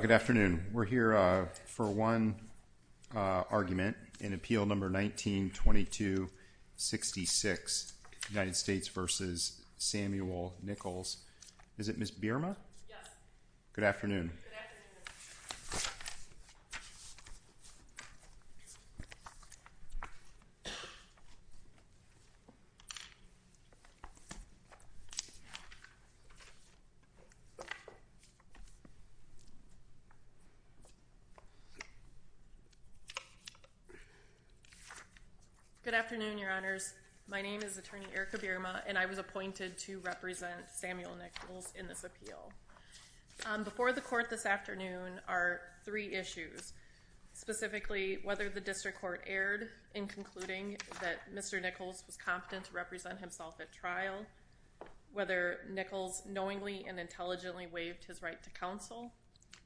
Good afternoon. We're here for one argument in Appeal No. 19-22-66, United States v. Samuel Nichols. Good afternoon, Your Honors. My name is Attorney Erica Bierma and I was appointed to represent Samuel Nichols in this appeal. Before the Court this afternoon are three issues. Specifically, whether the District Court erred in concluding that Mr. Nichols was competent to represent himself at trial, whether Nichols knowingly and intelligently waived his right to counsel,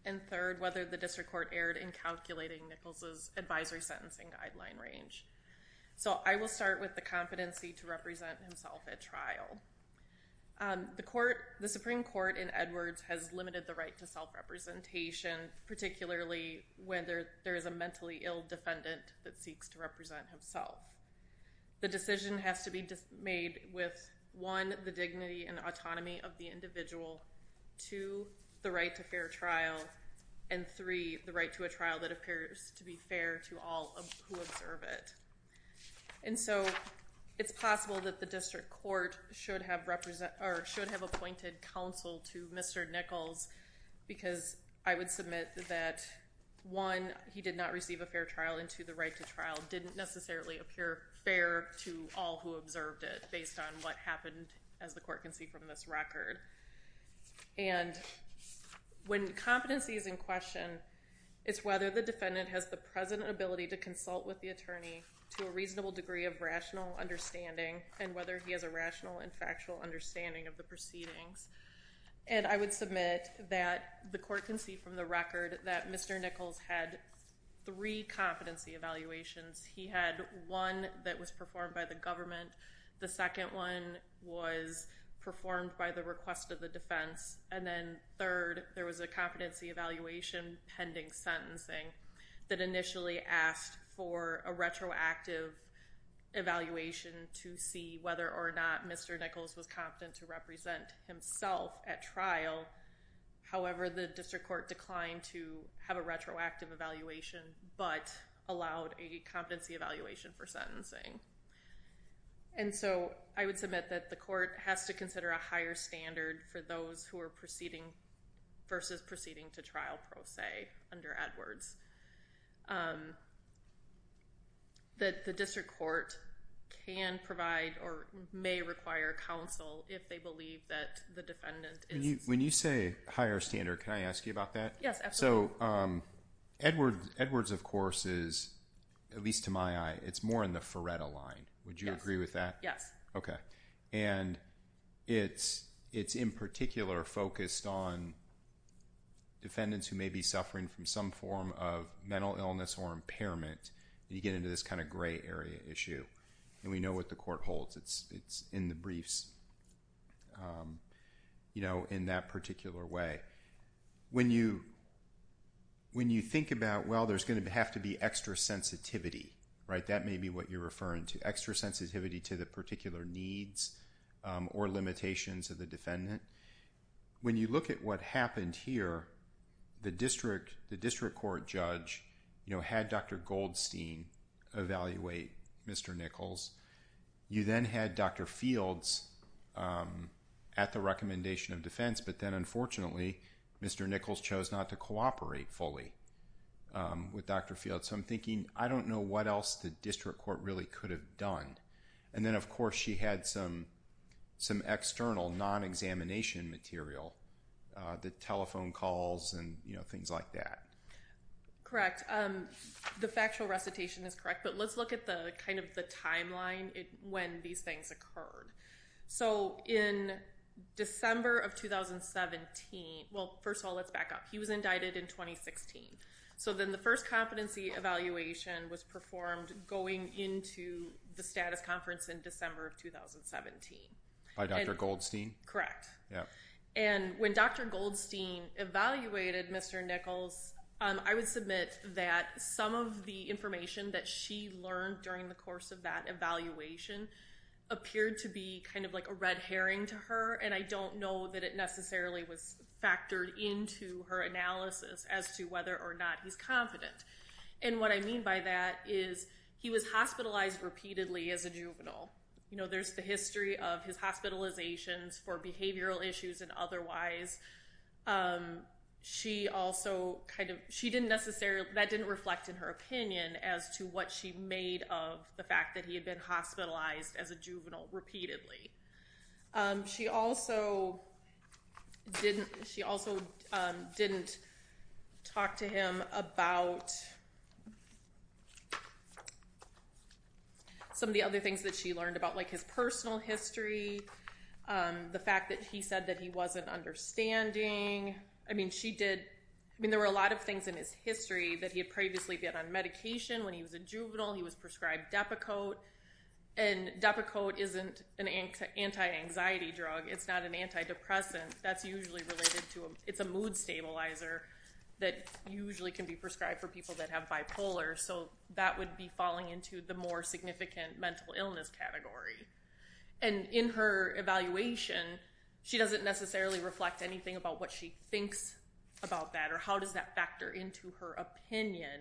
and third, whether the District Court erred in calculating Nichols's advisory sentencing guideline range. So I will start with the competency to represent himself at trial. The Supreme Court in Edwards has limited the right to self-representation, particularly when there is a mentally ill defendant that seeks to represent himself. The decision has to be made with, one, the dignity and autonomy of the individual, two, the right to fair trial, and three, the right to a trial that appears to be fair to all who observe it. And so it's possible that the District Court should have appointed counsel to Mr. Nichols because I would submit that, one, he did not receive a fair trial and two, the right to trial didn't necessarily appear fair to all who observed it based on what happened, as the Court can see from this record. And when competency is in question, it's whether the defendant has the present ability to consult with the attorney to a reasonable degree of rational understanding and whether he has a rational and factual understanding of the proceedings. And I would submit that the Court can see from the record that Mr. Nichols had three competency evaluations. He had one that was performed by the government, the second one was performed by the request of the defense, and then third, there was a competency evaluation pending sentencing that initially asked for a retroactive evaluation to see whether or not Mr. Nichols was confident to represent himself at trial. However, the District Court declined to have a retroactive evaluation but allowed a competency evaluation for sentencing. And so, I would submit that the Court has to consider a higher standard for those who are proceeding versus proceeding to trial pro se under Edwards. That the District Court can provide or may require counsel if they believe that the defendant is... When you say higher standard, can I ask you about that? Yes, absolutely. So, Edwards, of course, is, at least to my eye, it's more in the Faretta line. Would you agree with that? Yes. Okay. And it's in particular focused on defendants who may be suffering from some form of mental illness or impairment. You get into this kind of gray area issue. And we know what the Court holds. It's in the briefs, you know, in that when you think about, well, there's going to have to be extra sensitivity, right? That may be what you're referring to. Extra sensitivity to the particular needs or limitations of the defendant. When you look at what happened here, the District Court judge, you know, had Dr. Goldstein evaluate Mr. Nichols. You then had Dr. Fields at the recommendation of defense, but then, unfortunately, Mr. Nichols chose not to cooperate fully with Dr. Fields. So, I'm thinking, I don't know what else the District Court really could have done. And then, of course, she had some external non-examination material. The telephone calls and, you know, things like that. Correct. The factual recitation is correct, but let's look at the kind of the Well, first of all, let's back up. He was indicted in 2016. So, then the first competency evaluation was performed going into the status conference in December of 2017. By Dr. Goldstein? Correct. Yeah. And when Dr. Goldstein evaluated Mr. Nichols, I would submit that some of the information that she learned during the course of that evaluation appeared to be kind of like a red herring to her, and I don't know that it necessarily was factored into her analysis as to whether or not he's confident. And what I mean by that is he was hospitalized repeatedly as a juvenile. You know, there's the history of his hospitalizations for behavioral issues and otherwise. She also kind of, she didn't necessarily, that didn't reflect in her opinion as to what she She also didn't talk to him about some of the other things that she learned about, like his personal history, the fact that he said that he wasn't understanding. I mean, she did, I mean, there were a lot of things in his history that he had previously been on medication when he was a anxiety drug. It's not an antidepressant. That's usually related to, it's a mood stabilizer that usually can be prescribed for people that have bipolar, so that would be falling into the more significant mental illness category. And in her evaluation, she doesn't necessarily reflect anything about what she thinks about that or how does that factor into her opinion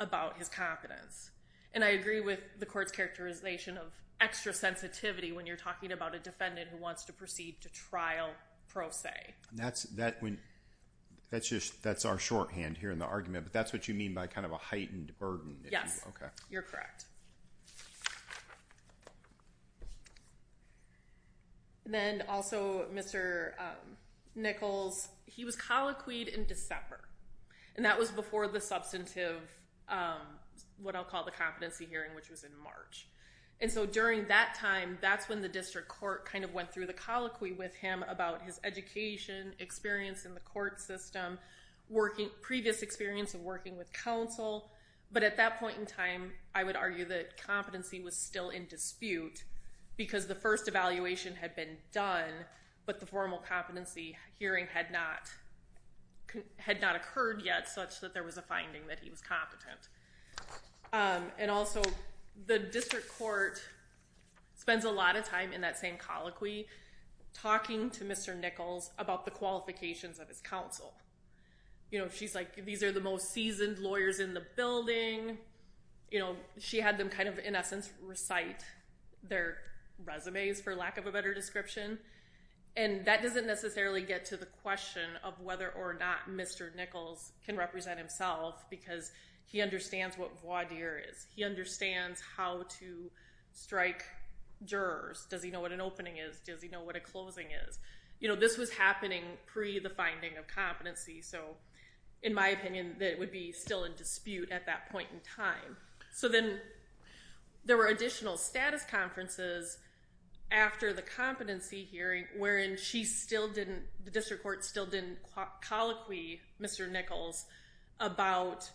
about his confidence. And I agree with the court's characterization of extra sensitivity when you're talking about a defendant who wants to proceed to trial pro se. That's, that when, that's just, that's our shorthand here in the argument, but that's what you mean by kind of a heightened burden. Yes, you're correct. Then also Mr. Nichols, he was colloquied in December and that was before the substantive, what I'll call the competency hearing, which was in March. And so during that time, that's when the district court kind of went through the colloquy with him about his education, experience in the court system, previous experience of working with counsel. But at that point in time, I would argue that competency was still in dispute because the first evaluation had been done, but the formal competency hearing had not, had not occurred yet such that there was a finding that he was competent. And also the district court spends a lot of time in that same colloquy talking to Mr. Nichols about the qualifications of his counsel. You know, she's like, these are the most seasoned lawyers in the building. You know, she had them kind of, in essence, recite their resumes, for lack of a better description. And that doesn't necessarily get to the question of whether or not Mr. Nichols can represent himself because he understands what voir dire is. He understands how to strike jurors. Does he know what an opening is? Does he know what a closing is? You know, this was happening pre the finding of competency. So in my opinion, that would be still in dispute at that point in time. So then there were additional status conferences after the competency hearing wherein she still didn't, the district court still didn't colloquy Mr. Nichols about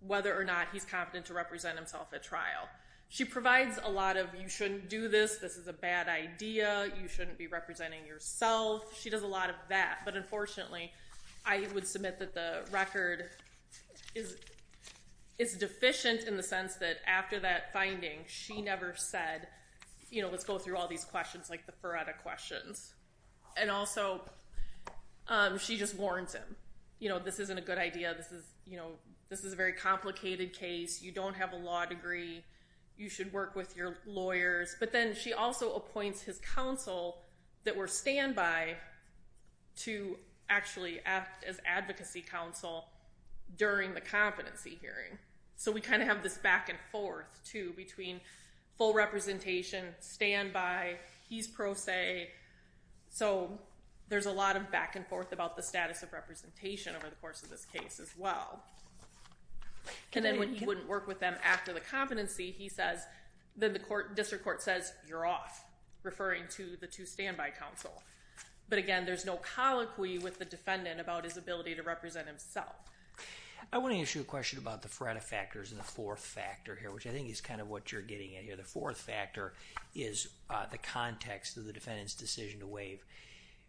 whether or not he's competent to represent himself at trial. She provides a lot of, you shouldn't do this, this is a bad idea, you shouldn't be representing yourself. She does a lot of that. But unfortunately, I would submit that the record is deficient in the sense that after that finding, she never said, you know, let's go through all these questions like the Feretta questions. And also, she just warns him. You know, this isn't a good idea, this is a very complicated case, you don't have a law degree, you should work with your lawyers. But then she also appoints his counsel that were standby to actually act as advocacy counsel during the competency hearing. So we kind of have this back and forth too between full representation, standby, he's pro se. So there's a lot of back and forth about the status of representation over the course of this case as well. And then when he wouldn't work with them after the competency, he says, then the district court says, you're off, referring to the two standby counsel. But again, there's no colloquy with the defendant about his ability to represent himself. I want to ask you a question about the Feretta factors and the fourth factor here, which I think is kind of what you're getting at here. The fourth factor is the context of the defendant's decision to waive.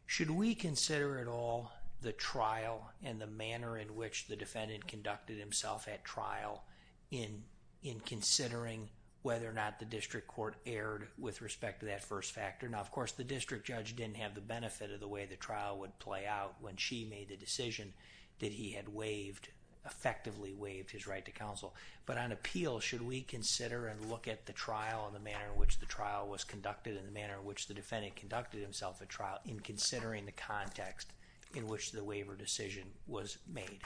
Should we consider at all the trial and the manner in which the defendant conducted himself at trial in considering whether or not the district court erred with respect to that first factor? Now, of course, the district judge didn't have the benefit of the way the trial would play out when she made the decision that he had waived, effectively waived his right to counsel. But on appeal, should we consider and look at the trial and the manner in which the trial was conducted and the manner in which the defendant conducted himself at trial in considering the context in which the waiver decision was made?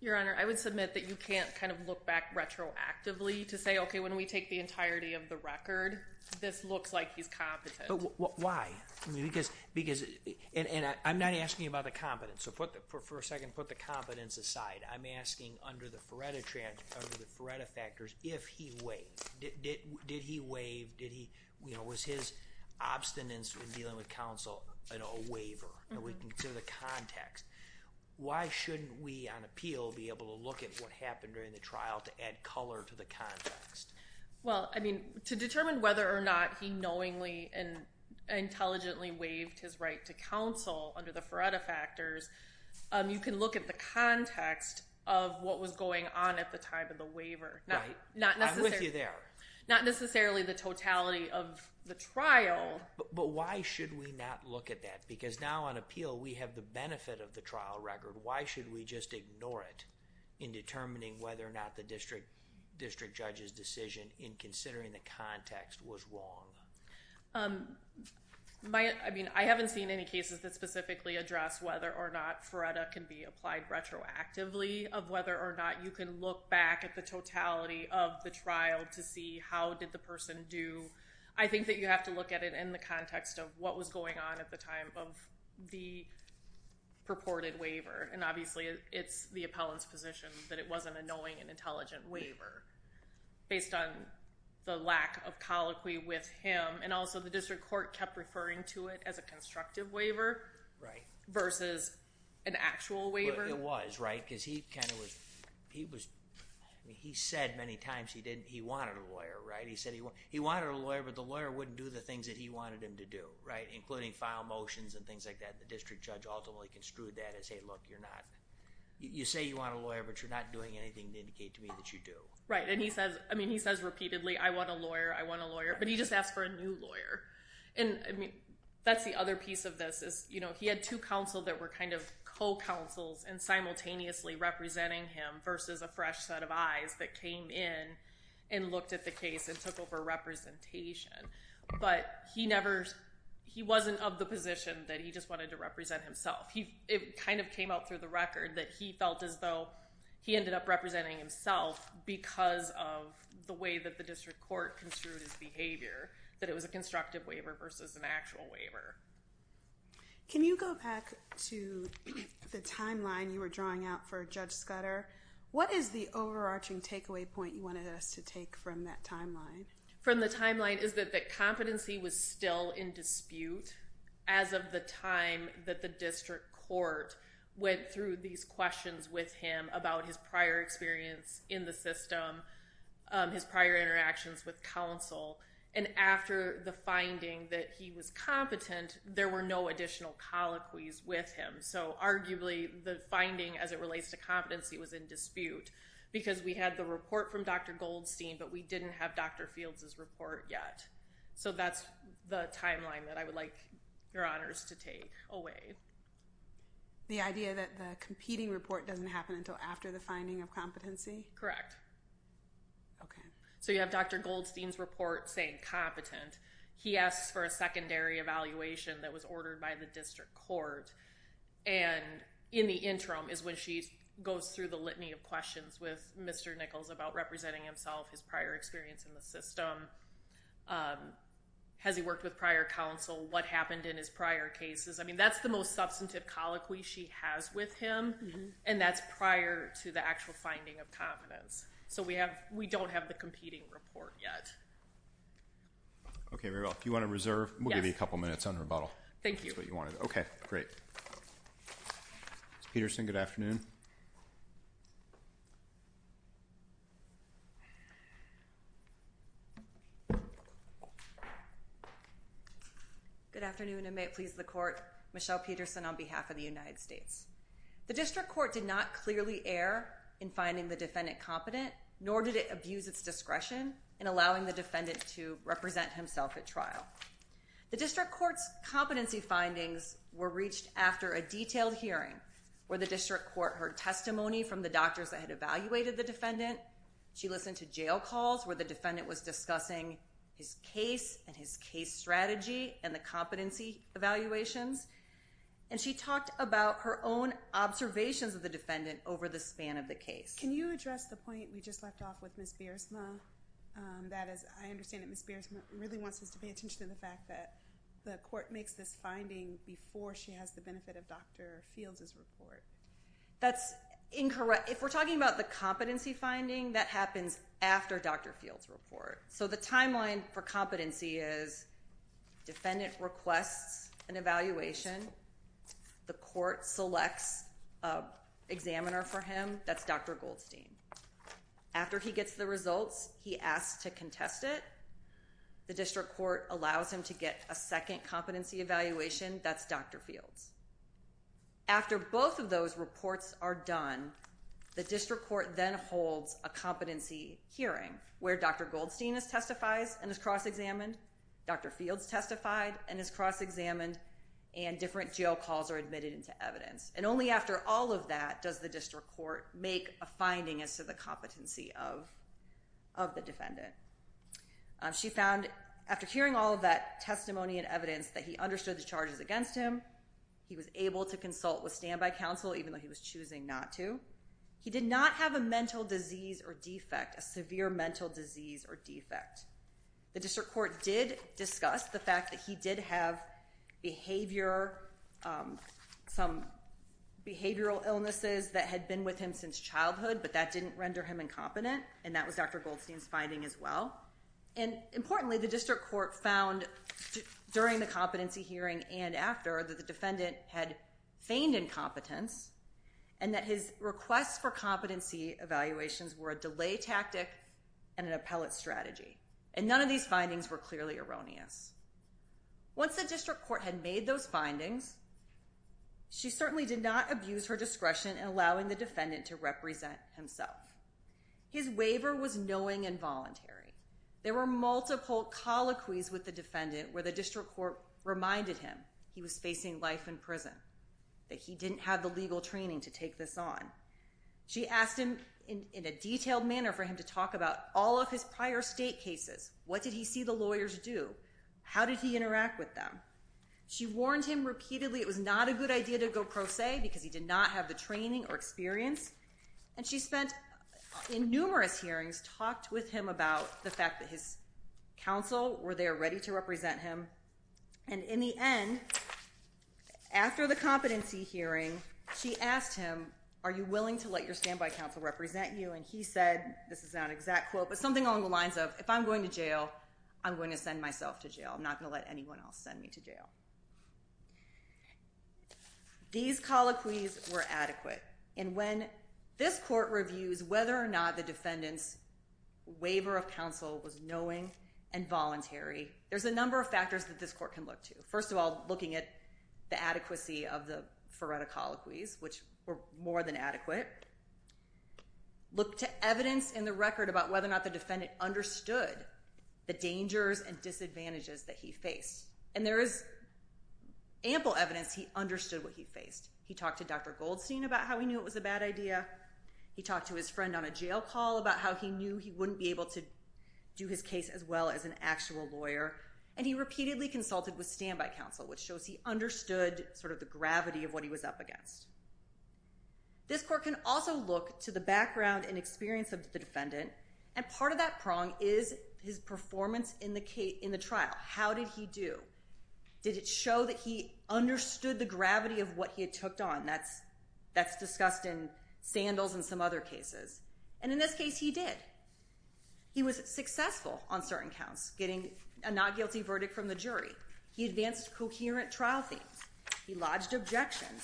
Your Honor, I would submit that you can't kind of look back retroactively to say, okay, when we take the entirety of the record, this looks like he's competent. But why? Because, and I'm not asking about the competence. So for a second, put the competence aside. I'm asking under the Feretta factors, if he waived. Did he waive? Was his obstinance with dealing with counsel a waiver? And we can consider the context. Why shouldn't we on appeal be able to look at what happened during the trial to add color to the context? Well, I mean, to determine whether or not he knowingly and intelligently waived his right to counsel under the Feretta factors, you can look at the context of what was going on at the time of the waiver. Right. I'm with you there. Not necessarily the totality of the trial. But why should we not look at that? Because now on appeal, we have the benefit of the trial record. Why should we just ignore it in determining whether or not the district judge's decision in considering the context was wrong? I mean, I haven't seen any cases that specifically address whether or not Feretta can be applied retroactively, of whether or not you can look back at the totality of the trial to see how did the person do. I think that you have to look at it in the context of what was going on at the time of the purported waiver. And obviously, it's the appellant's position that it was an annoying and intelligent waiver based on the lack of colloquy with him. And also, the district court kept referring to it as a constructive waiver versus an actual waiver. It was, right? Because he kind of was, he said many times he wanted a lawyer, right? He said he wanted a lawyer, but the lawyer wouldn't do the things that he wanted him to do, right? Including file motions and things like that. The district judge ultimately construed that as, hey, look, you're not, you say you want a lawyer, but you're not doing anything to indicate to me that you do. Right. And he says, I mean, he says repeatedly, I want a lawyer, I want a lawyer. But he just asked for a new lawyer. And that's the other piece of this is, you know, he had two counsel that were kind of co-counsels and simultaneously representing him versus a fresh set of eyes that came in and looked at the case and took over representation. But he never, he wasn't of the position that he just wanted to represent himself. It kind of came out through the record that he felt as though he ended up representing himself because of the way that the district court construed his behavior, that it was a constructive waiver versus an actual waiver. Can you go back to the timeline you were drawing out for Judge Scudder? What is the overarching takeaway point you wanted us to take from that timeline? From the timeline is that competency was still in dispute as of the time that the district court went through these questions with him about his prior experience in the system, his prior interactions with counsel. And after the finding that he was competent, there were no additional colloquies with him. So arguably the finding as it relates to competency was in dispute because we had the report from Dr. Goldstein, but we didn't have Dr. Fields' report yet. So that's the timeline that I would like your honors to take away. The idea that the competing report doesn't happen until after the finding of competency? Correct. Okay. So you have Dr. Goldstein's report saying competent. He asks for a secondary evaluation that was ordered by the district court. And in the interim is when she goes through the litany of questions with Mr. Nichols about representing himself, his prior experience in the system. Has he worked with prior counsel? What happened in his prior cases? I mean, that's the most substantive colloquy she has with him, and that's prior to the actual finding of competence. So we don't have the competing report yet. Okay, very well. If you want to reserve, we'll give you a couple minutes on rebuttal. Thank you. Okay, great. Ms. Peterson, good afternoon. Good afternoon, and may it please the court. Michelle Peterson on behalf of the United States. The district court did not clearly err in finding the defendant competent, nor did it abuse its discretion in allowing the defendant to represent himself at trial. The district court's competency findings were reached after a detailed hearing where the district court heard testimony from the doctors that had evaluated the defendant. She listened to jail calls where the defendant was discussing his case and his case strategy and the competency evaluations, and she talked about her own observations of the defendant over the span of the case. Can you address the point we just left off with Ms. Beersma? That is, I understand that Ms. Beersma really wants us to pay attention to the fact that the court makes this finding before she has the benefit of Dr. Fields' report. That's incorrect. If we're talking about the competency finding, that happens after Dr. Fields' report. So the timeline for competency is defendant requests an evaluation. The court selects an examiner for him. That's Dr. Goldstein. After he gets the results, he asks to contest it. The district court allows him to get a second competency evaluation. That's Dr. Fields. After both of those reports are done, the district court then holds a competency hearing where Dr. Goldstein testifies and is cross-examined, Dr. Fields testified and is cross-examined, and different jail calls are admitted into evidence. And only after all of that does the district court make a finding as to the competency of the defendant. She found after hearing all of that testimony and evidence that he understood the charges against him, he was able to consult with standby counsel even though he was choosing not to, he did not have a mental disease or defect, a severe mental disease or defect. The district court did discuss the fact that he did have behavior, some behavioral illnesses that had been with him since childhood, but that didn't render him incompetent, and that was Dr. Goldstein's finding as well. And importantly, the district court found during the competency hearing and after that the defendant had feigned incompetence and that his requests for competency evaluations were a delay tactic and an appellate strategy. And none of these findings were clearly erroneous. Once the district court had made those findings, she certainly did not abuse her discretion in allowing the defendant to represent himself. His waiver was knowing and voluntary. There were multiple colloquies with the defendant where the district court reminded him that he was facing life in prison, that he didn't have the legal training to take this on. She asked him in a detailed manner for him to talk about all of his prior state cases. What did he see the lawyers do? How did he interact with them? She warned him repeatedly it was not a good idea to go pro se because he did not have the training or experience, and she spent in numerous hearings talked with him about the fact that his counsel were there ready to represent him. And in the end, after the competency hearing, she asked him, are you willing to let your standby counsel represent you? And he said, this is not an exact quote, but something along the lines of, if I'm going to jail, I'm going to send myself to jail. I'm not going to let anyone else send me to jail. These colloquies were adequate. And when this court reviews whether or not the defendant's waiver of counsel was knowing and voluntary, there's a number of factors that this court can look to. First of all, looking at the adequacy of the Faretta colloquies, which were more than adequate. Look to evidence in the record about whether or not the defendant understood the dangers and disadvantages that he faced. And there is ample evidence he understood what he faced. He talked to Dr. Goldstein about how he knew it was a bad idea. He talked to his friend on a jail call about how he knew he wouldn't be able to do his case as well as an actual lawyer. And he repeatedly consulted with standby counsel, which shows he understood sort of the gravity of what he was up against. This court can also look to the background and experience of the defendant. And part of that prong is his performance in the trial. How did he do? Did it show that he understood the gravity of what he had took on? That's discussed in Sandals and some other cases. And in this case, he did. He was successful on certain counts getting a not guilty verdict from the jury. He advanced coherent trial themes. He lodged objections.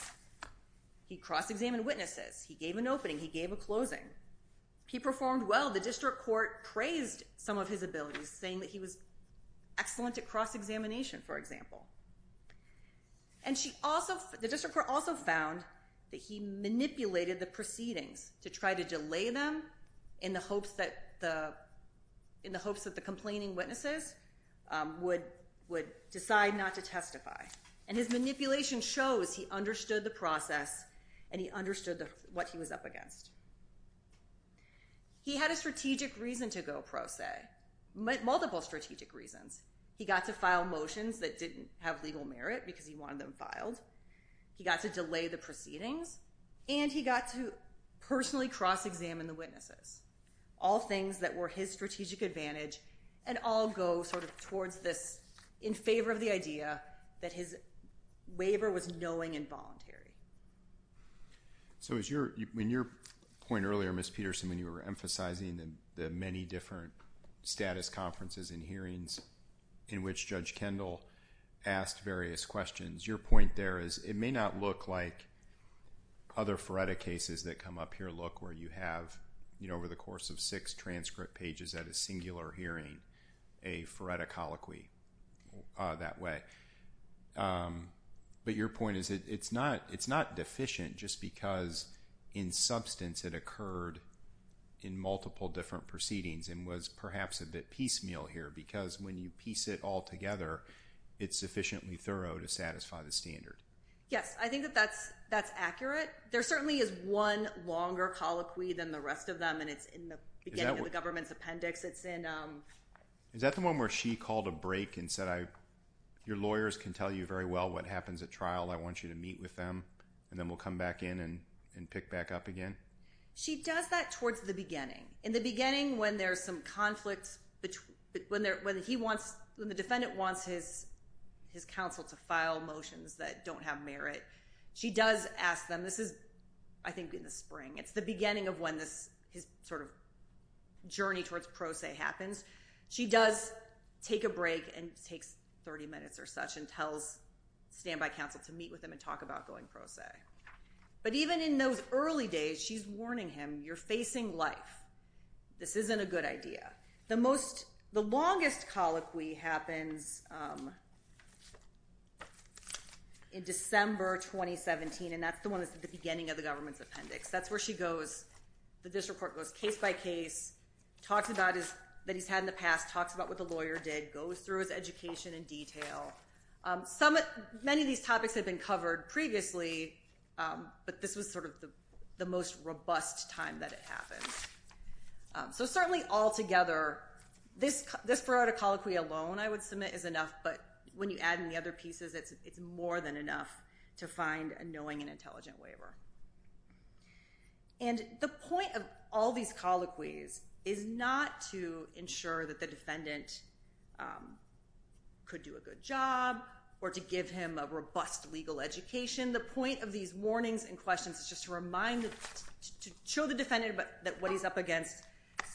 He cross-examined witnesses. He gave an opening. He gave a closing. He performed well. The district court praised some of his abilities, saying that he was excellent at cross-examination, for example. And the district court also found that he manipulated the proceedings to try to delay them in the hopes that the complaining witnesses would decide not to testify. And his manipulation shows he understood the process and he understood what he was up against. He had a strategic reason to go pro se, multiple strategic reasons. He got to file motions that didn't have legal merit because he wanted them filed. He got to delay the proceedings. And he got to personally cross-examine the witnesses, all things that were his strategic advantage, and all go sort of towards this in favor of the idea that his waiver was knowing and voluntary. So when your point earlier, Ms. Peterson, when you were emphasizing the many different status conferences and hearings in which Judge Kendall asked various questions, your point there is it may not look like other FRERTA cases that come up here look where you have, over the course of six transcript pages at a singular hearing, a FRERTA colloquy that way. But your point is it's not deficient just because in substance it occurred in multiple different proceedings and was perhaps a bit piecemeal here. Because when you piece it all together, it's sufficiently thorough to satisfy the standard. Yes, I think that that's accurate. There certainly is one longer colloquy than the rest of them, and it's in the beginning of the government's appendix. Is that the one where she called a break and said, your lawyers can tell you very well what happens at trial, I want you to meet with them, and then we'll come back in and pick back up again? She does that towards the beginning. In the beginning when there's some conflict, when the defendant wants his counsel to file motions that don't have merit, she does ask them. This is, I think, in the spring. It's the beginning of when his journey towards pro se happens. She does take a break and takes 30 minutes or such and tells standby counsel to meet with him and talk about going pro se. But even in those early days, she's warning him, you're facing life. This isn't a good idea. The longest colloquy happens in December 2017, and that's the one that's at the beginning of the government's appendix. That's where the district court goes case by case, talks about what he's had in the past, talks about what the lawyer did, goes through his education in detail. Many of these topics have been covered previously, but this was sort of the most robust time that it happened. So certainly altogether, this parodic colloquy alone, I would submit, is enough, but when you add in the other pieces, it's more than enough to find a knowing and intelligent waiver. And the point of all these colloquies is not to ensure that the defendant could do a good job or to give him a robust legal education. The point of these warnings and questions is just to remind, to show the defendant what he's up against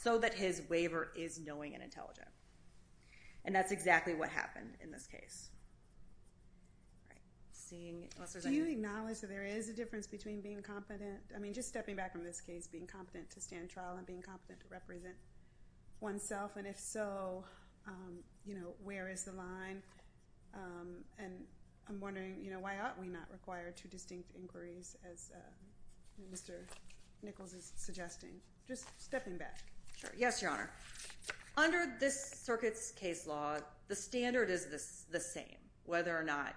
so that his waiver is knowing and intelligent. And that's exactly what happened in this case. Do you acknowledge that there is a difference between being competent? I mean, just stepping back from this case, being competent to stand trial and being competent to represent oneself? And if so, where is the line? And I'm wondering, why ought we not require two distinct inquiries, as Mr. Nichols is suggesting? Just stepping back. Yes, Your Honor. Under this circuit's case law, the standard is the same, whether or not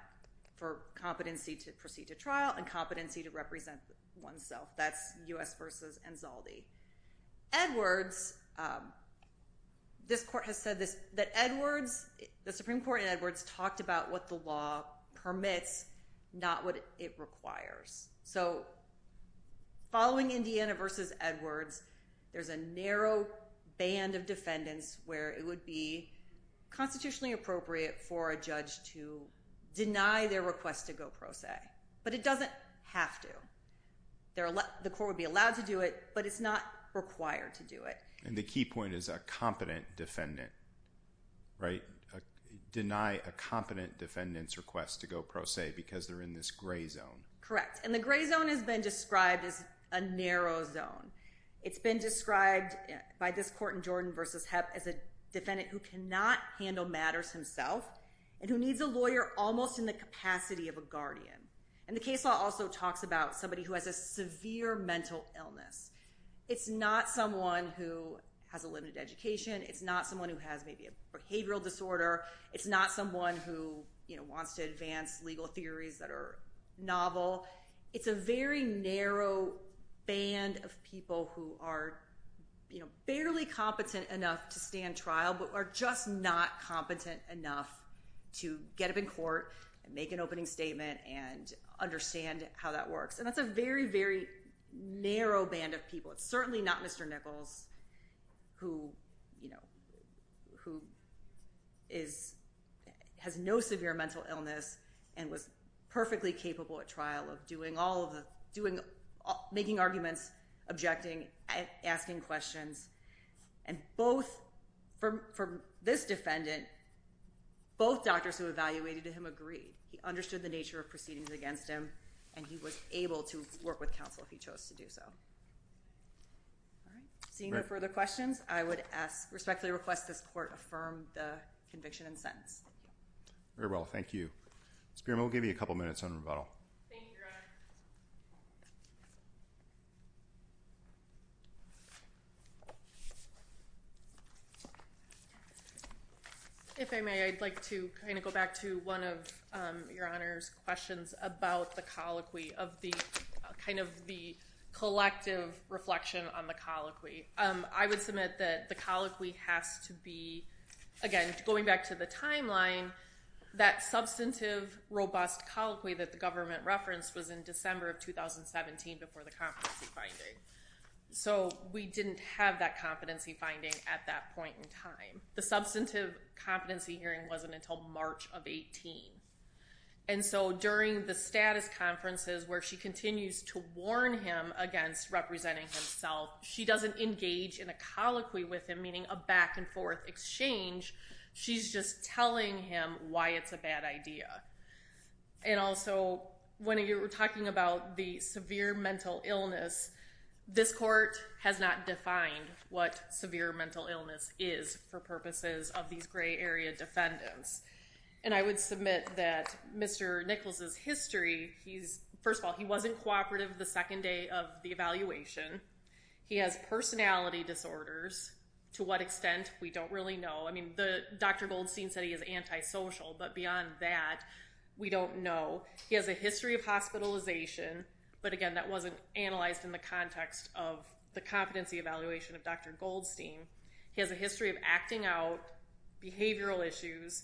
for competency to proceed to trial and competency to represent oneself. That's U.S. v. Anzaldi. Edwards, this court has said that Edwards, the Supreme Court in Edwards talked about what the law permits, not what it requires. So following Indiana v. Edwards, there's a narrow band of defendants where it would be constitutionally appropriate for a judge to deny their request to go pro se. But it doesn't have to. The court would be allowed to do it, but it's not required to do it. And the key point is a competent defendant, right? Deny a competent defendant's request to go pro se because they're in this gray zone. Correct. And the gray zone has been described as a narrow zone. It's been described by this court in Jordan v. Hepp as a defendant who cannot handle matters himself and who needs a lawyer almost in the capacity of a guardian. And the case law also talks about somebody who has a severe mental illness. It's not someone who has a limited education. It's not someone who has maybe a behavioral disorder. It's not someone who wants to advance legal theories that are novel. It's a very narrow band of people who are barely competent enough to stand trial but are just not competent enough to get up in court and make an opening statement and understand how that works. And that's a very, very narrow band of people. It's certainly not Mr. Nichols who has no severe mental illness and was perfectly capable at trial of making arguments, objecting, asking questions. And for this defendant, both doctors who evaluated him agreed. He understood the nature of proceedings against him, and he was able to work with counsel if he chose to do so. Seeing no further questions, I would respectfully request this court affirm the conviction and sentence. Very well. Thank you. Ms. Bierma, we'll give you a couple minutes on rebuttal. Thank you, Your Honor. If I may, I'd like to kind of go back to one of Your Honor's questions about the colloquy of the kind of the collective reflection on the colloquy. I would submit that the colloquy has to be, again, going back to the timeline, that substantive robust colloquy that the government referenced was in December of 2017 before the competency finding. So we didn't have that competency finding at that point in time. The substantive competency hearing wasn't until March of 18. And so during the status conferences where she continues to warn him against representing himself, she doesn't engage in a colloquy with him, meaning a back-and-forth exchange. She's just telling him why it's a bad idea. And also, when you're talking about the severe mental illness, this court has not defined what severe mental illness is for purposes of these gray area defendants. And I would submit that Mr. Nichols' history, first of all, he wasn't cooperative the second day of the evaluation. He has personality disorders. To what extent, we don't really know. I mean, Dr. Goldstein said he is antisocial, but beyond that, we don't know. He has a history of hospitalization, but again, that wasn't analyzed in the context of the competency evaluation of Dr. Goldstein. He has a history of acting out behavioral issues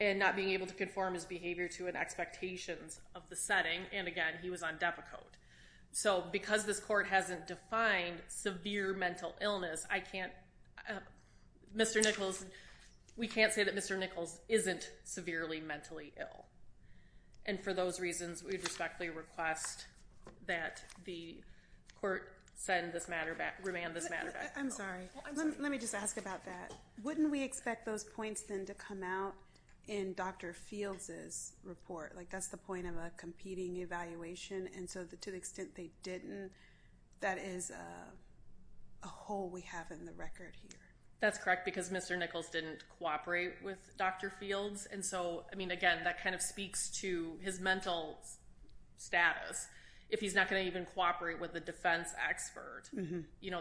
and not being able to conform his behavior to an expectation of the setting. And again, he was on DEPA code. So because this court hasn't defined severe mental illness, I can't, Mr. Nichols, we can't say that Mr. Nichols isn't severely mentally ill. And for those reasons, we would respectfully request that the court send this matter back, remand this matter back. I'm sorry. Let me just ask about that. Wouldn't we expect those points then to come out in Dr. Fields' report? Like that's the point of a competing evaluation. And so to the extent they didn't, that is a hole we have in the record here. That's correct because Mr. Nichols didn't cooperate with Dr. Fields. And so, I mean, again, that kind of speaks to his mental status. If he's not going to even cooperate with a defense expert,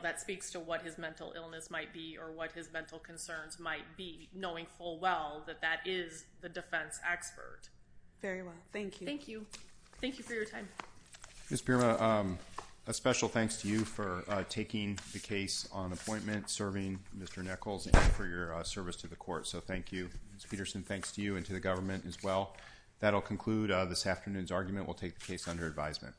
that speaks to what his mental illness might be or what his mental concerns might be, knowing full well that that is the defense expert. Very well. Thank you. Thank you. Thank you for your time. Ms. Pirma, a special thanks to you for taking the case on appointment, serving Mr. Nichols, and for your service to the court. So thank you. Ms. Peterson, thanks to you and to the government as well. That will conclude this afternoon's argument. We'll take the case under advisement.